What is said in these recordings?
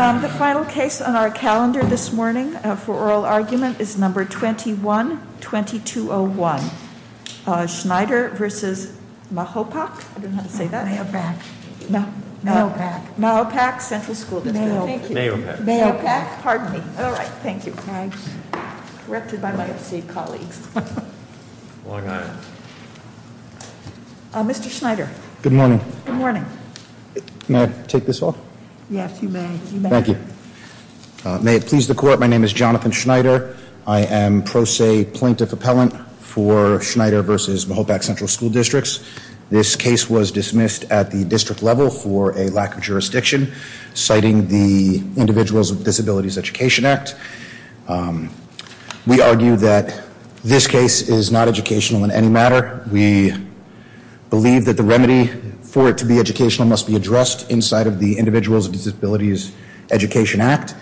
The final case on our calendar this morning for oral argument is number 21-2201. Schneider versus Mahopac, I don't know how to say that. Mahopac. Mahopac. Mahopac Central School District. Mayo. Mayopac. Mayopac. Pardon me. All right, thank you. Thanks. Directed by my perceived colleagues. Long Island. Mr. Schneider. Good morning. Good morning. May I take this off? Yes, you may. Thank you. May it please the court, my name is Jonathan Schneider. I am pro se plaintiff appellant for Schneider versus Mahopac Central School Districts. This case was dismissed at the district level for a lack of jurisdiction, citing the Individuals with Disabilities Education Act. We argue that this case is not educational in any matter. We believe that the remedy for it to be educational must be addressed inside of the Individuals with Disabilities Education Act.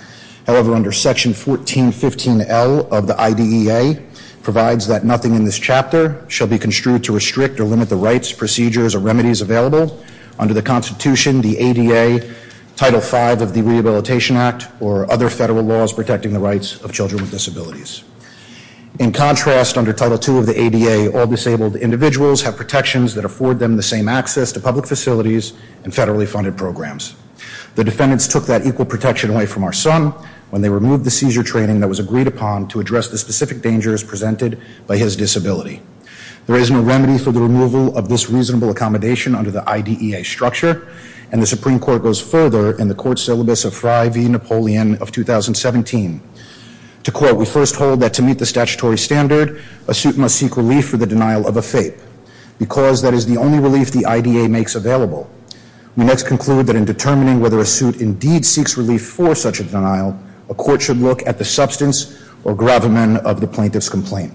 However, under section 1415L of the IDEA provides that nothing in this chapter shall be construed to restrict or limit the rights, procedures, or remedies available under the Constitution, the ADA, Title V of the Rehabilitation Act, or other federal laws protecting the rights of children with disabilities. In contrast, under Title II of the ADA, all disabled individuals have protections that afford them the same access to public facilities and federally funded programs. The defendants took that equal protection away from our son when they removed the seizure training that was agreed upon to address the specific dangers presented by his disability. There is no remedy for the removal of this reasonable accommodation under the IDEA structure, and the Supreme Court goes further in the court syllabus of Fry v. Napoleon of 2017. To quote, we first hold that to meet the statutory standard, a suit must seek relief for the denial of a FAPE, because that is the only relief the IDEA makes available. We next conclude that in determining whether a suit indeed seeks relief for such a denial, a court should look at the substance or gravamen of the plaintiff's complaint.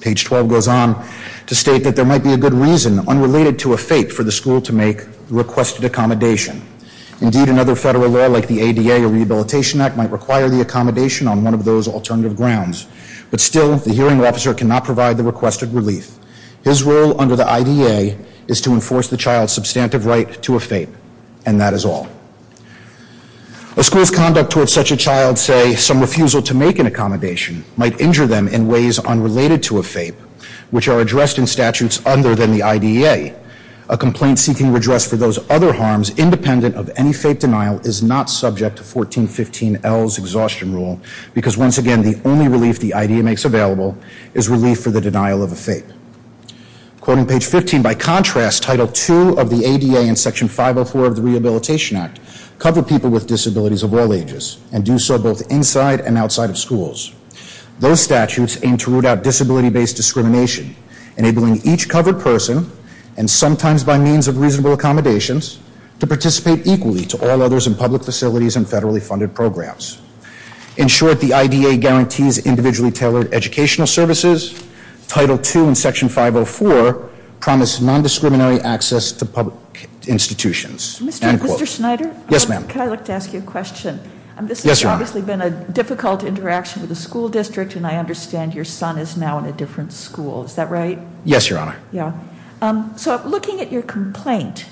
Page 12 goes on to state that there might be a good reason, unrelated to a FAPE, for the school to make the requested accommodation. Indeed, another federal law like the ADA or Rehabilitation Act might require the accommodation on one of those alternative grounds. But still, the hearing officer cannot provide the requested relief. His role under the IDEA is to enforce the child's substantive right to a FAPE, and that is all. A school's conduct towards such a child, say, some refusal to make an accommodation, might injure them in ways unrelated to a FAPE, which are addressed in statutes other than the IDEA. A complaint seeking redress for those other harms, independent of any FAPE denial, is not subject to 1415L's exhaustion rule, because once again, the only relief the IDEA makes available is relief for the denial of a FAPE. Quoting page 15, by contrast, Title II of the ADA and Section 504 of the Rehabilitation Act cover people with disabilities of all ages, and do so both inside and outside of schools. Those statutes aim to root out disability-based discrimination, enabling each covered person, and sometimes by means of reasonable accommodations, to participate equally to all others in public facilities and federally funded programs. In short, the IDEA guarantees individually tailored educational services. Title II and Section 504 promise non-discriminatory access to public institutions. Mr. Schneider? Yes, ma'am. Can I ask you a question? Yes, ma'am. This has obviously been a difficult interaction with the school district, and I understand your son is now in a different school. Is that right? Yes, your honor. Yeah. So, looking at your complaint,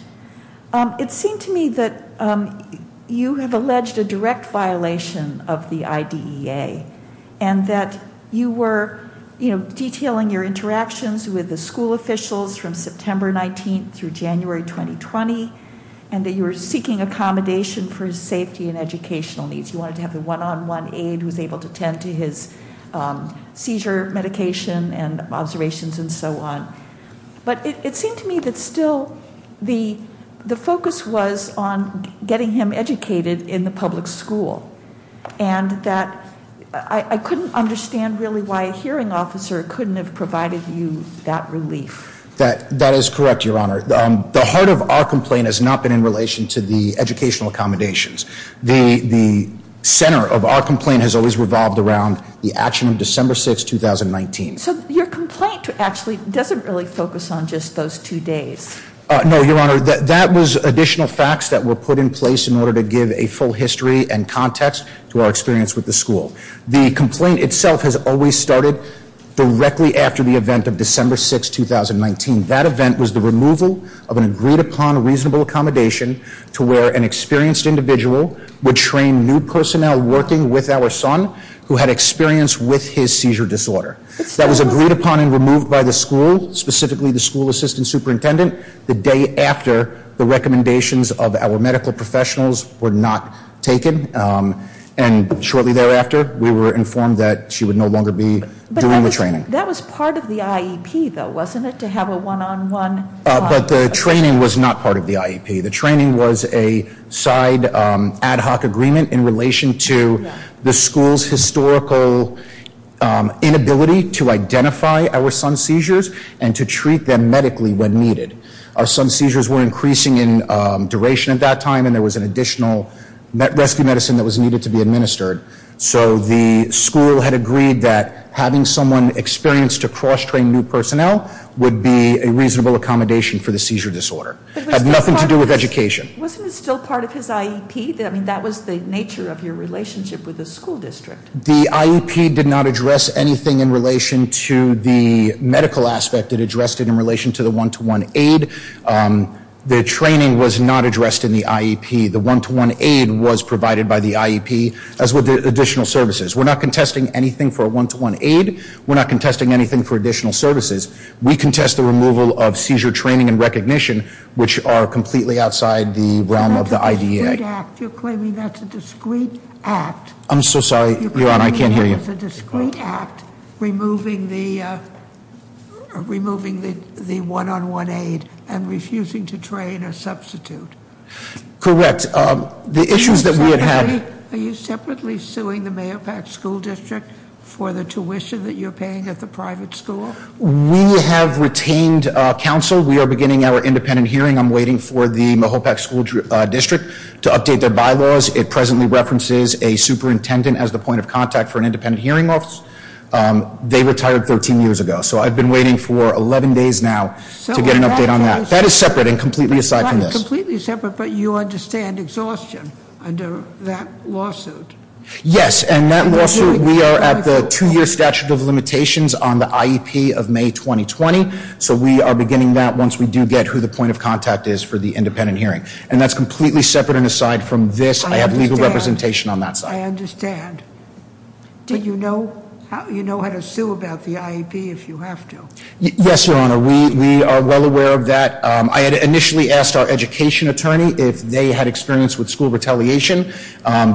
it seemed to me that you have alleged a direct violation of the IDEA, and that you were detailing your interactions with the school officials from September 19th through January 2020, and that you were seeking accommodation for his safety and educational needs. You wanted to have a one-on-one aide who's able to tend to his seizure medication and observations and so on. But it seemed to me that still the focus was on getting him educated in the public school, and that I couldn't understand really why a hearing officer couldn't have provided you that relief. That is correct, your honor. The heart of our complaint has not been in relation to the educational accommodations. The center of our complaint has always revolved around the action of December 6, 2019. So, your complaint actually doesn't really focus on just those two days. No, your honor. That was additional facts that were put in place in order to give a full history and context to our experience with the school. The complaint itself has always started directly after the event of December 6, 2019. That event was the removal of an agreed-upon reasonable accommodation to where an experienced individual would train new personnel working with our son, who had experience with his seizure disorder. That was agreed upon and removed by the school, specifically the school assistant superintendent, the day after the recommendations of our medical professionals were not taken. And shortly thereafter, we were informed that she would no longer be doing the training. That was part of the IEP, though, wasn't it? To have a one-on-one- But the training was not part of the IEP. The training was a side ad hoc agreement in relation to the school's historical inability to identify our son's seizures and to treat them medically when needed. Our son's seizures were increasing in duration at that time, and there was an additional rescue medicine that was needed to be administered. So the school had agreed that having someone experienced to cross-train new personnel would be a reasonable accommodation for the seizure disorder. It had nothing to do with education. Wasn't it still part of his IEP? I mean, that was the nature of your relationship with the school district. The IEP did not address anything in relation to the medical aspect. It addressed it in relation to the one-to-one aid. The training was not addressed in the IEP. The one-to-one aid was provided by the IEP, as were the additional services. We're not contesting anything for a one-to-one aid. We're not contesting anything for additional services. We contest the removal of seizure training and recognition, which are completely outside the realm of the IDEA. You're claiming that's a discreet act. I'm so sorry, Your Honor, I can't hear you. You're claiming that's a discreet act, removing the one-on-one aid and refusing to train a substitute. Correct. The issues that we have- Are you separately suing the Mahopac School District for the tuition that you're paying at the private school? We have retained counsel. We are beginning our independent hearing. I'm waiting for the Mahopac School District to update their bylaws. It presently references a superintendent as the point of contact for an independent hearing office. They retired 13 years ago, so I've been waiting for 11 days now to get an update on that. That is separate and completely aside from this. Completely separate, but you understand exhaustion under that lawsuit? Yes, and that lawsuit, we are at the two-year statute of limitations on the IEP of May 2020. So we are beginning that once we do get who the point of contact is for the independent hearing. And that's completely separate and aside from this. I have legal representation on that side. I understand. Do you know how to sue about the IEP if you have to? Yes, Your Honor. We are well aware of that. I had initially asked our education attorney if they had experience with school retaliation.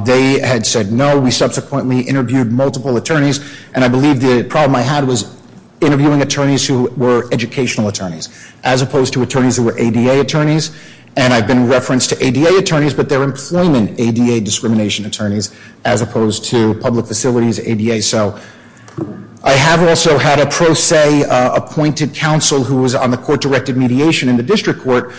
They had said no. We subsequently interviewed multiple attorneys. And I believe the problem I had was interviewing attorneys who were educational attorneys as opposed to attorneys who were ADA attorneys. And I've been referenced to ADA attorneys, but they're employment ADA discrimination attorneys as opposed to public facilities ADA. So I have also had a pro se appointed counsel who was on the court directed mediation in the district court.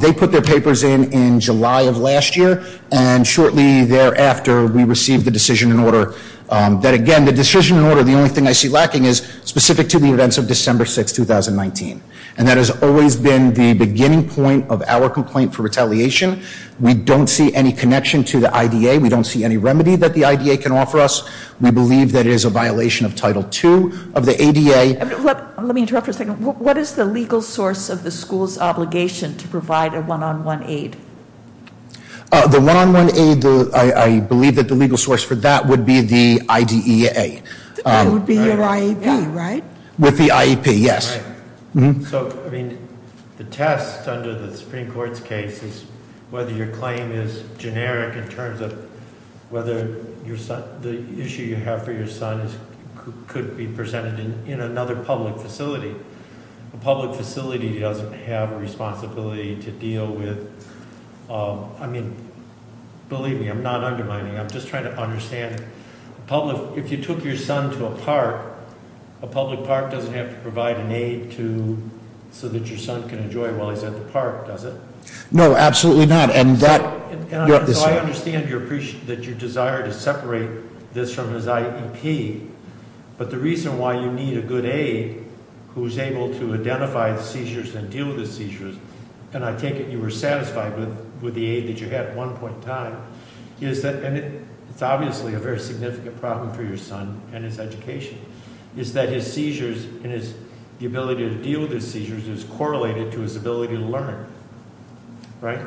They put their papers in in July of last year. And shortly thereafter, we received the decision in order. That again, the decision in order, the only thing I see lacking is specific to the events of December 6, 2019. And that has always been the beginning point of our complaint for retaliation. We don't see any connection to the IDA. We don't see any remedy that the IDA can offer us. We believe that it is a violation of Title II of the ADA. Let me interrupt for a second. What is the legal source of the school's obligation to provide a one on one aid? The one on one aid, I believe that the legal source for that would be the IDEA. That would be your IEP, right? With the IEP, yes. So, I mean, the test under the Supreme Court's case is whether your claim is generic in terms of whether the issue you have for your son could be presented in another public facility. A public facility doesn't have a responsibility to deal with, I mean, believe me, I'm not undermining. I'm just trying to understand, if you took your son to a park, a public park doesn't have to provide an aid so that your son can enjoy while he's at the park, does it? No, absolutely not, and that- And so I understand that you desire to separate this from his IEP. But the reason why you need a good aid who's able to identify the seizures and deal with the seizures. And I take it you were satisfied with the aid that you had at one point in time. Is that, and it's obviously a very significant problem for your son and his education. Is that his seizures and his ability to deal with his seizures is correlated to his ability to learn, right?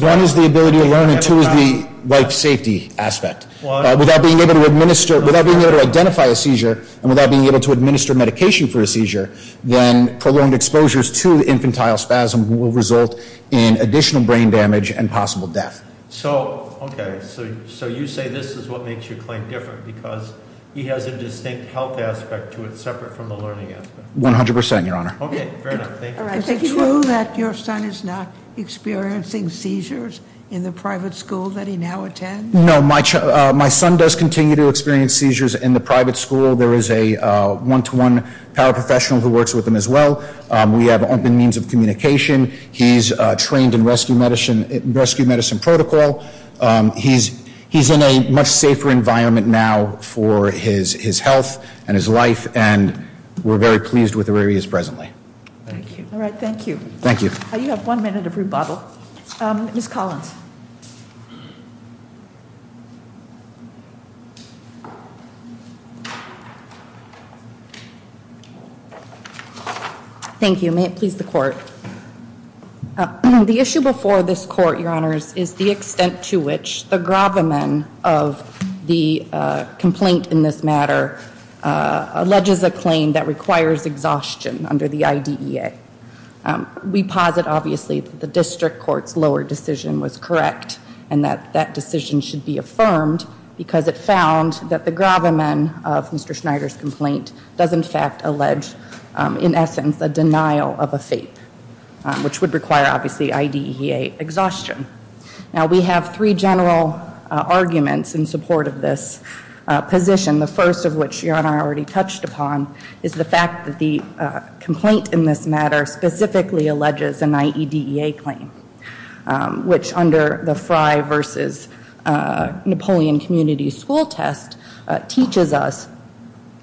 One is the ability to learn and two is the life safety aspect. Without being able to identify a seizure and without being able to administer medication for a seizure, then prolonged exposures to the infantile spasm will result in additional brain damage and possible death. So, okay, so you say this is what makes your claim different because he has a distinct health aspect to it separate from the learning aspect. 100%, your honor. Okay, fair enough, thank you. Is it true that your son is not experiencing seizures in the private school that he now attends? No, my son does continue to experience seizures in the private school. There is a one-to-one paraprofessional who works with him as well. We have open means of communication. He's trained in rescue medicine protocol. He's in a much safer environment now for his health and his life. And we're very pleased with where he is presently. Thank you. All right, thank you. Thank you. You have one minute of rebuttal. Ms. Collins. Thank you, may it please the court. The issue before this court, your honors, is the extent to which the gravamen of the complaint in this matter alleges a claim that requires exhaustion under the IDEA. We posit, obviously, that the district court's lower decision was correct and that that decision should be affirmed because it found that the gravamen of Mr. Schneider's complaint does, in fact, allege, in essence, a denial of a FAPE. Which would require, obviously, IDEA exhaustion. Now, we have three general arguments in support of this position. The first of which your honor already touched upon is the fact that the complaint in this matter specifically alleges an IDEA claim. Which under the Frye versus Napoleon Community School test teaches us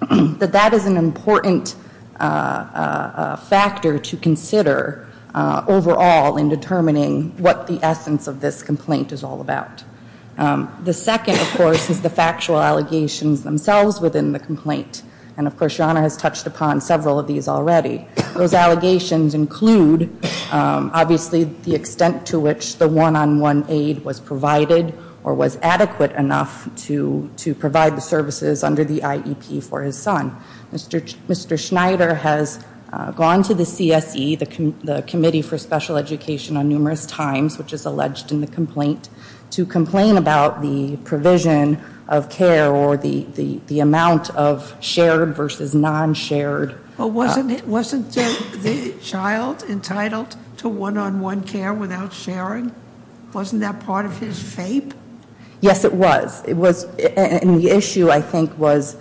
that that is an important factor to consider overall in determining what the essence of this complaint is all about. The second, of course, is the factual allegations themselves within the complaint. And, of course, your honor has touched upon several of these already. Those allegations include, obviously, the extent to which the one-on-one aid was provided or was adequate enough to provide the services under the IEP for his son. Mr. Schneider has gone to the CSE, the Committee for Special Education on Numerous Times, which is alleged in the complaint, to complain about the provision of care or the amount of shared versus non-shared. Well, wasn't the child entitled to one-on-one care without sharing? Wasn't that part of his FAPE? Yes, it was. It was, and the issue, I think, was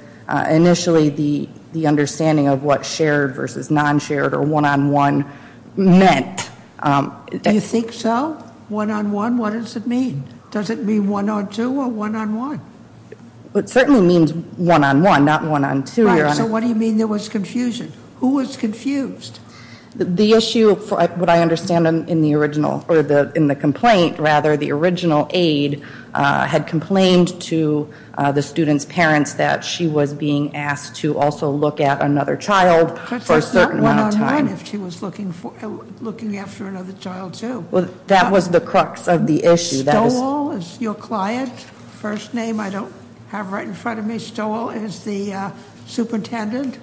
initially the understanding of what shared versus non-shared or one-on-one meant. Do you think so? One-on-one, what does it mean? Does it mean one-on-two or one-on-one? It certainly means one-on-one, not one-on-two, your honor. So what do you mean there was confusion? Who was confused? The issue, what I understand in the original, or in the complaint, rather, the original aid had complained to the student's parents that she was being asked to also look at another child for a certain amount of time. But that's not one-on-one if she was looking after another child, too. That was the crux of the issue. Stowell is your client? First name I don't have right in front of me. Dr. Stowell is the superintendent?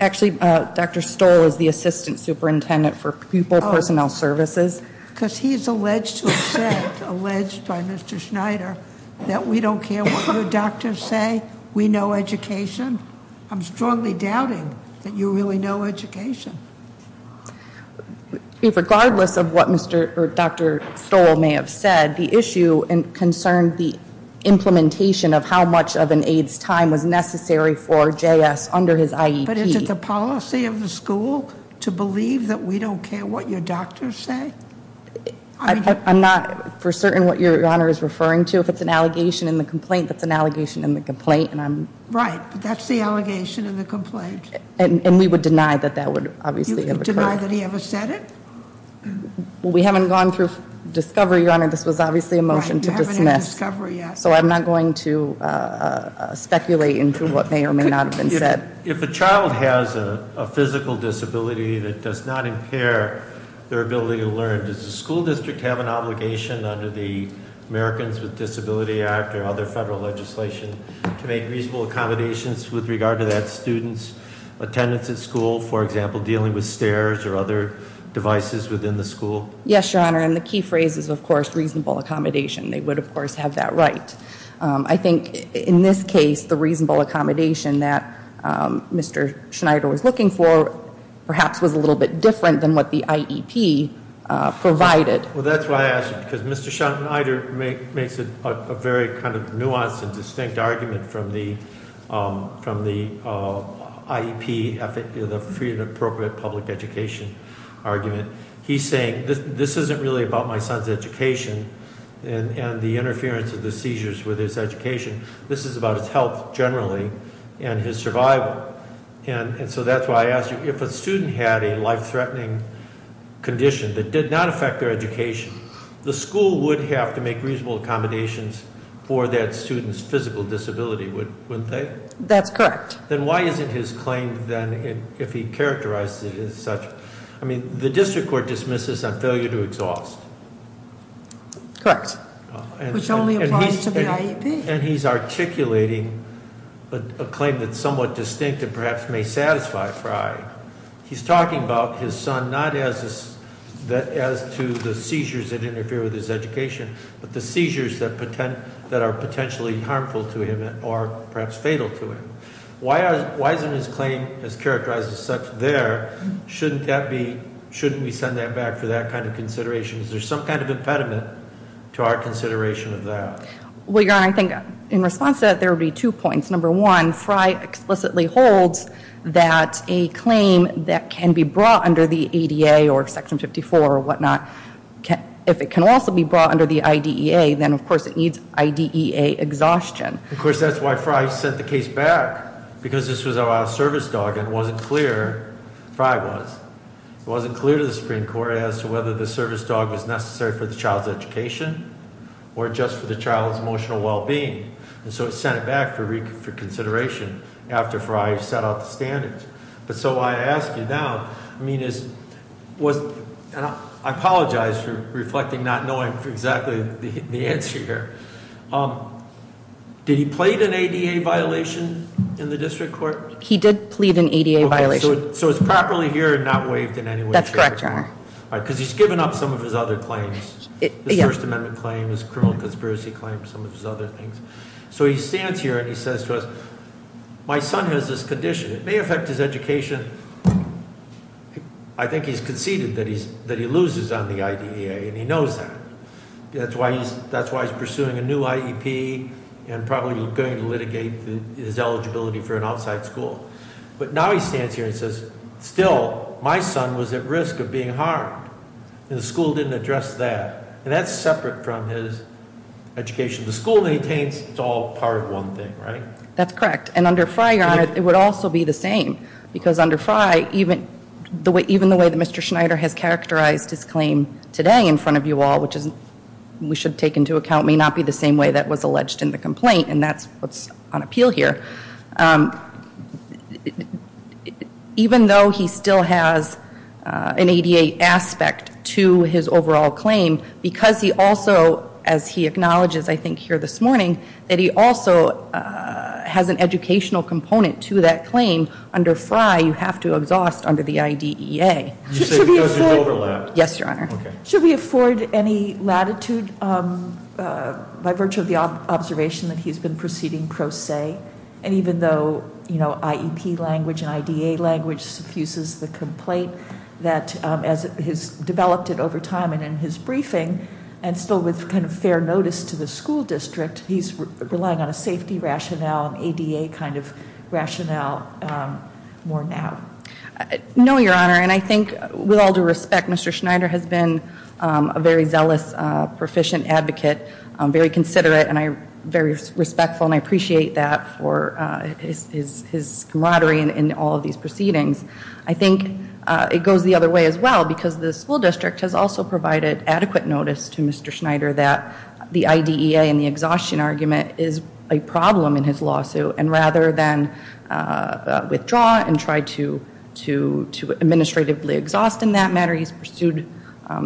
Actually, Dr. Stowell is the assistant superintendent for pupil personnel services. because he's alleged to have said, alleged by Mr. Schneider, that we don't care what your doctors say. We know education. I'm strongly doubting that you really know education. Regardless of what Dr. Stowell may have said, the issue and concern the implementation of how much of an aid's time was necessary for JS under his IEP. But is it the policy of the school to believe that we don't care what your doctors say? I'm not for certain what your honor is referring to. If it's an allegation in the complaint, that's an allegation in the complaint. Right, that's the allegation in the complaint. And we would deny that that would obviously have occurred. You would deny that he ever said it? We haven't gone through discovery, your honor. This was obviously a motion to dismiss. Right, you haven't had discovery, yes. So I'm not going to speculate into what may or may not have been said. If a child has a physical disability that does not impair their ability to learn, does the school district have an obligation under the Americans with Disability Act or other federal legislation to make reasonable accommodations with regard to that student's attendance at school? For example, dealing with stairs or other devices within the school? Yes, your honor, and the key phrase is, of course, reasonable accommodation. They would, of course, have that right. I think, in this case, the reasonable accommodation that Mr. Schneider was looking for perhaps was a little bit different than what the IEP provided. Well, that's why I asked, because Mr. Schneider makes a very kind of nuanced and distinct argument from the IEP, the Freedom of Appropriate Public Education argument. He's saying, this isn't really about my son's education and the interference of the seizures with his education. This is about his health, generally, and his survival. And so that's why I asked you, if a student had a life-threatening condition that did not affect their education, the school would have to make reasonable accommodations for that student's physical disability, wouldn't they? That's correct. Then why isn't his claim then, if he characterized it as such. I mean, the district court dismisses on failure to exhaust. Correct, which only applies to the IEP. And he's articulating a claim that's somewhat distinct and perhaps may satisfy Fry. He's talking about his son, not as to the seizures that interfere with his education, but the seizures that are potentially harmful to him or perhaps fatal to him. Why isn't his claim as characterized as such there? Shouldn't we send that back for that kind of consideration? Is there some kind of impediment to our consideration of that? Well, your honor, I think in response to that, there would be two points. Number one, Fry explicitly holds that a claim that can be brought under the ADA or section 54 or whatnot. If it can also be brought under the IDEA, then of course it needs IDEA exhaustion. Of course, that's why Fry sent the case back, because this was a service dog and it wasn't clear, Fry was. It wasn't clear to the Supreme Court as to whether the service dog was necessary for the child's education or just for the child's emotional well-being. And so it's sent it back for reconsideration after Fry set out the standards. But so I ask you now, I apologize for reflecting not knowing exactly the answer here. Did he plead an ADA violation in the district court? He did plead an ADA violation. So it's properly here and not waived in any way? That's correct, your honor. All right, because he's given up some of his other claims. The First Amendment claims, criminal conspiracy claims, some of his other things. So he stands here and he says to us, my son has this condition, it may affect his education. And I think he's conceded that he loses on the IDEA and he knows that. That's why he's pursuing a new IEP and probably going to litigate his eligibility for an outside school. But now he stands here and says, still, my son was at risk of being harmed, and the school didn't address that. And that's separate from his education. The school maintains it's all part of one thing, right? That's correct, and under Frye, your honor, it would also be the same. Because under Frye, even the way that Mr. Schneider has characterized his claim today in front of you all, which we should take into account may not be the same way that was alleged in the complaint, and that's what's on appeal here. Even though he still has an ADA aspect to his overall claim, because he also, as he acknowledges I think here this morning, that he also has an educational component to that claim. Under Frye, you have to exhaust under the IDEA. Yes, your honor. Should we afford any latitude by virtue of the observation that he's been proceeding pro se? And even though IEP language and IDEA language suffuses the complaint, that as he's developed it over time and in his briefing, and still with kind of fair notice to the school district, he's relying on a safety rationale, an ADA kind of rationale more now. No, your honor, and I think with all due respect, Mr. Schneider has been a very zealous, proficient advocate, very considerate, and very respectful, and I appreciate that for his camaraderie in all of these proceedings. I think it goes the other way as well, because the school district has also provided adequate notice to Mr. Schneider that the IDEA and the exhaustion argument is a problem in his lawsuit, and rather than withdraw and try to administratively exhaust in that matter, he's pursued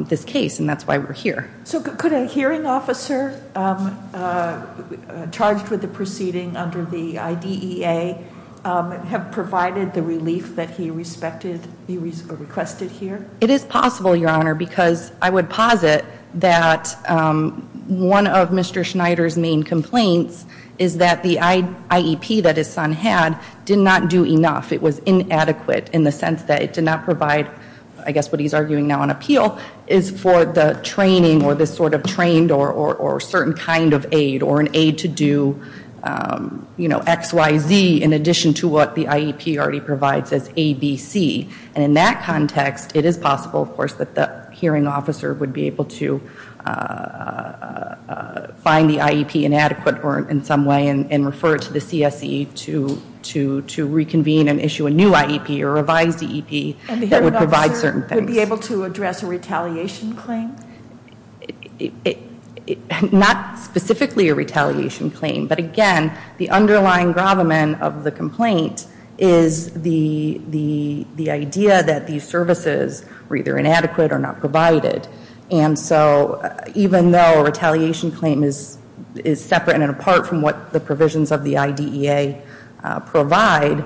this case, and that's why we're here. So could a hearing officer charged with the proceeding under the IDEA have provided the relief that he requested here? It is possible, your honor, because I would posit that one of Mr. Schneider's main complaints is that the IEP that his son had did not do enough. It was inadequate in the sense that it did not provide, I guess what he's arguing now on appeal, is for the training or this sort of trained or certain kind of aid or XYZ in addition to what the IEP already provides as ABC. And in that context, it is possible, of course, that the hearing officer would be able to find the IEP inadequate or in some way and refer it to the CSE to reconvene and issue a new IEP or revised EEP. That would provide certain things. And the hearing officer would be able to address a retaliation claim? Not specifically a retaliation claim. But again, the underlying gravamen of the complaint is the idea that these services were either inadequate or not provided. And so even though a retaliation claim is separate and apart from what the provisions of the IDEA provide,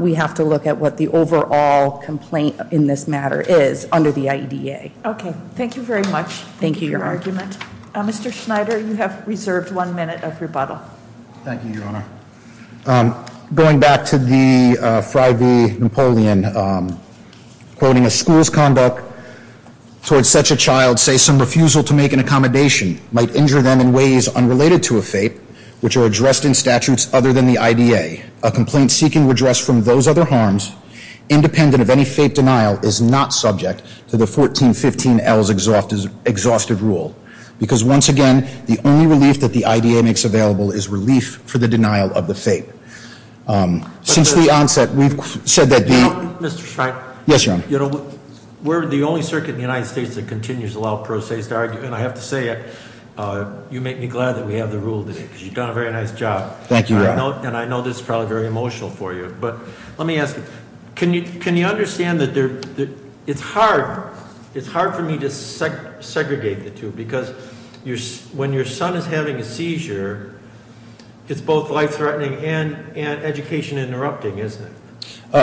we have to look at what the overall complaint in this matter is under the IDEA. Okay, thank you very much for your argument. Mr. Schneider, you have reserved one minute of rebuttal. Thank you, Your Honor. Going back to the Friday Napoleon, quoting a school's conduct towards such a child, say some refusal to make an accommodation might injure them in ways unrelated to a FAPE, which are addressed in statutes other than the IDA, a complaint seeking redress from those other harms, independent of any FAPE denial, is not subject to the 1415L's exhaustive rule. Because once again, the only relief that the IDA makes available is relief for the denial of the FAPE. Since the onset, we've said that the- Mr. Schneider. Yes, Your Honor. We're the only circuit in the United States that continues to allow pro se's to argue. And I have to say, you make me glad that we have the rule today, because you've done a very nice job. Thank you, Your Honor. And I know this is probably very emotional for you. But let me ask you, can you understand that it's hard for me to segregate the two, because when your son is having a seizure, it's both life threatening and education interrupting, isn't it?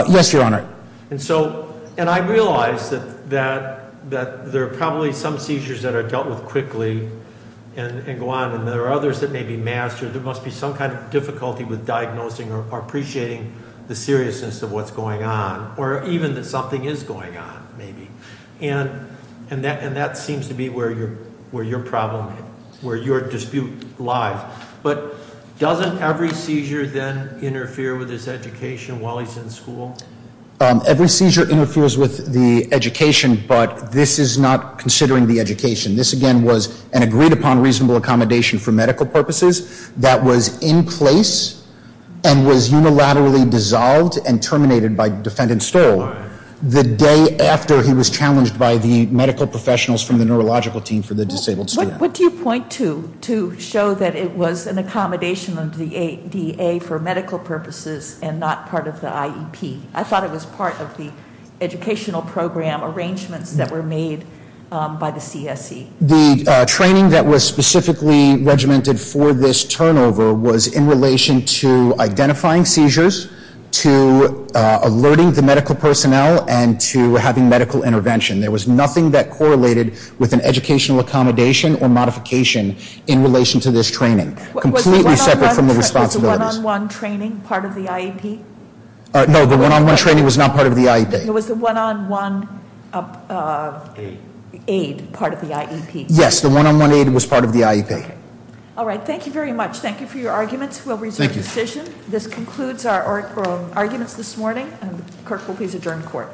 Yes, Your Honor. And so, and I realize that there are probably some seizures that are dealt with quickly and go on. And there are others that may be mastered. There must be some kind of difficulty with diagnosing or appreciating the seriousness of what's going on. Or even that something is going on, maybe. And that seems to be where your problem, where your dispute lies. But doesn't every seizure then interfere with his education while he's in school? Every seizure interferes with the education, but this is not considering the education. This again was an agreed upon reasonable accommodation for medical purposes that was in place and was unilaterally dissolved and terminated by Defendant Stoll the day after he was challenged by the medical professionals from the neurological team for the disabled student. What do you point to, to show that it was an accommodation of the ADA for medical purposes and not part of the IEP? I thought it was part of the educational program arrangements that were made by the CSE. The training that was specifically regimented for this turnover was in relation to identifying seizures, to alerting the medical personnel, and to having medical intervention. There was nothing that correlated with an educational accommodation or modification in relation to this training. Completely separate from the responsibilities. Was the one on one training part of the IEP? No, the one on one training was not part of the IEP. It was the one on one aid part of the IEP. Yes, the one on one aid was part of the IEP. All right, thank you very much. Thank you for your arguments. We'll resume decision. This concludes our arguments this morning. Clerk will please adjourn court. Clerk will now adjourn.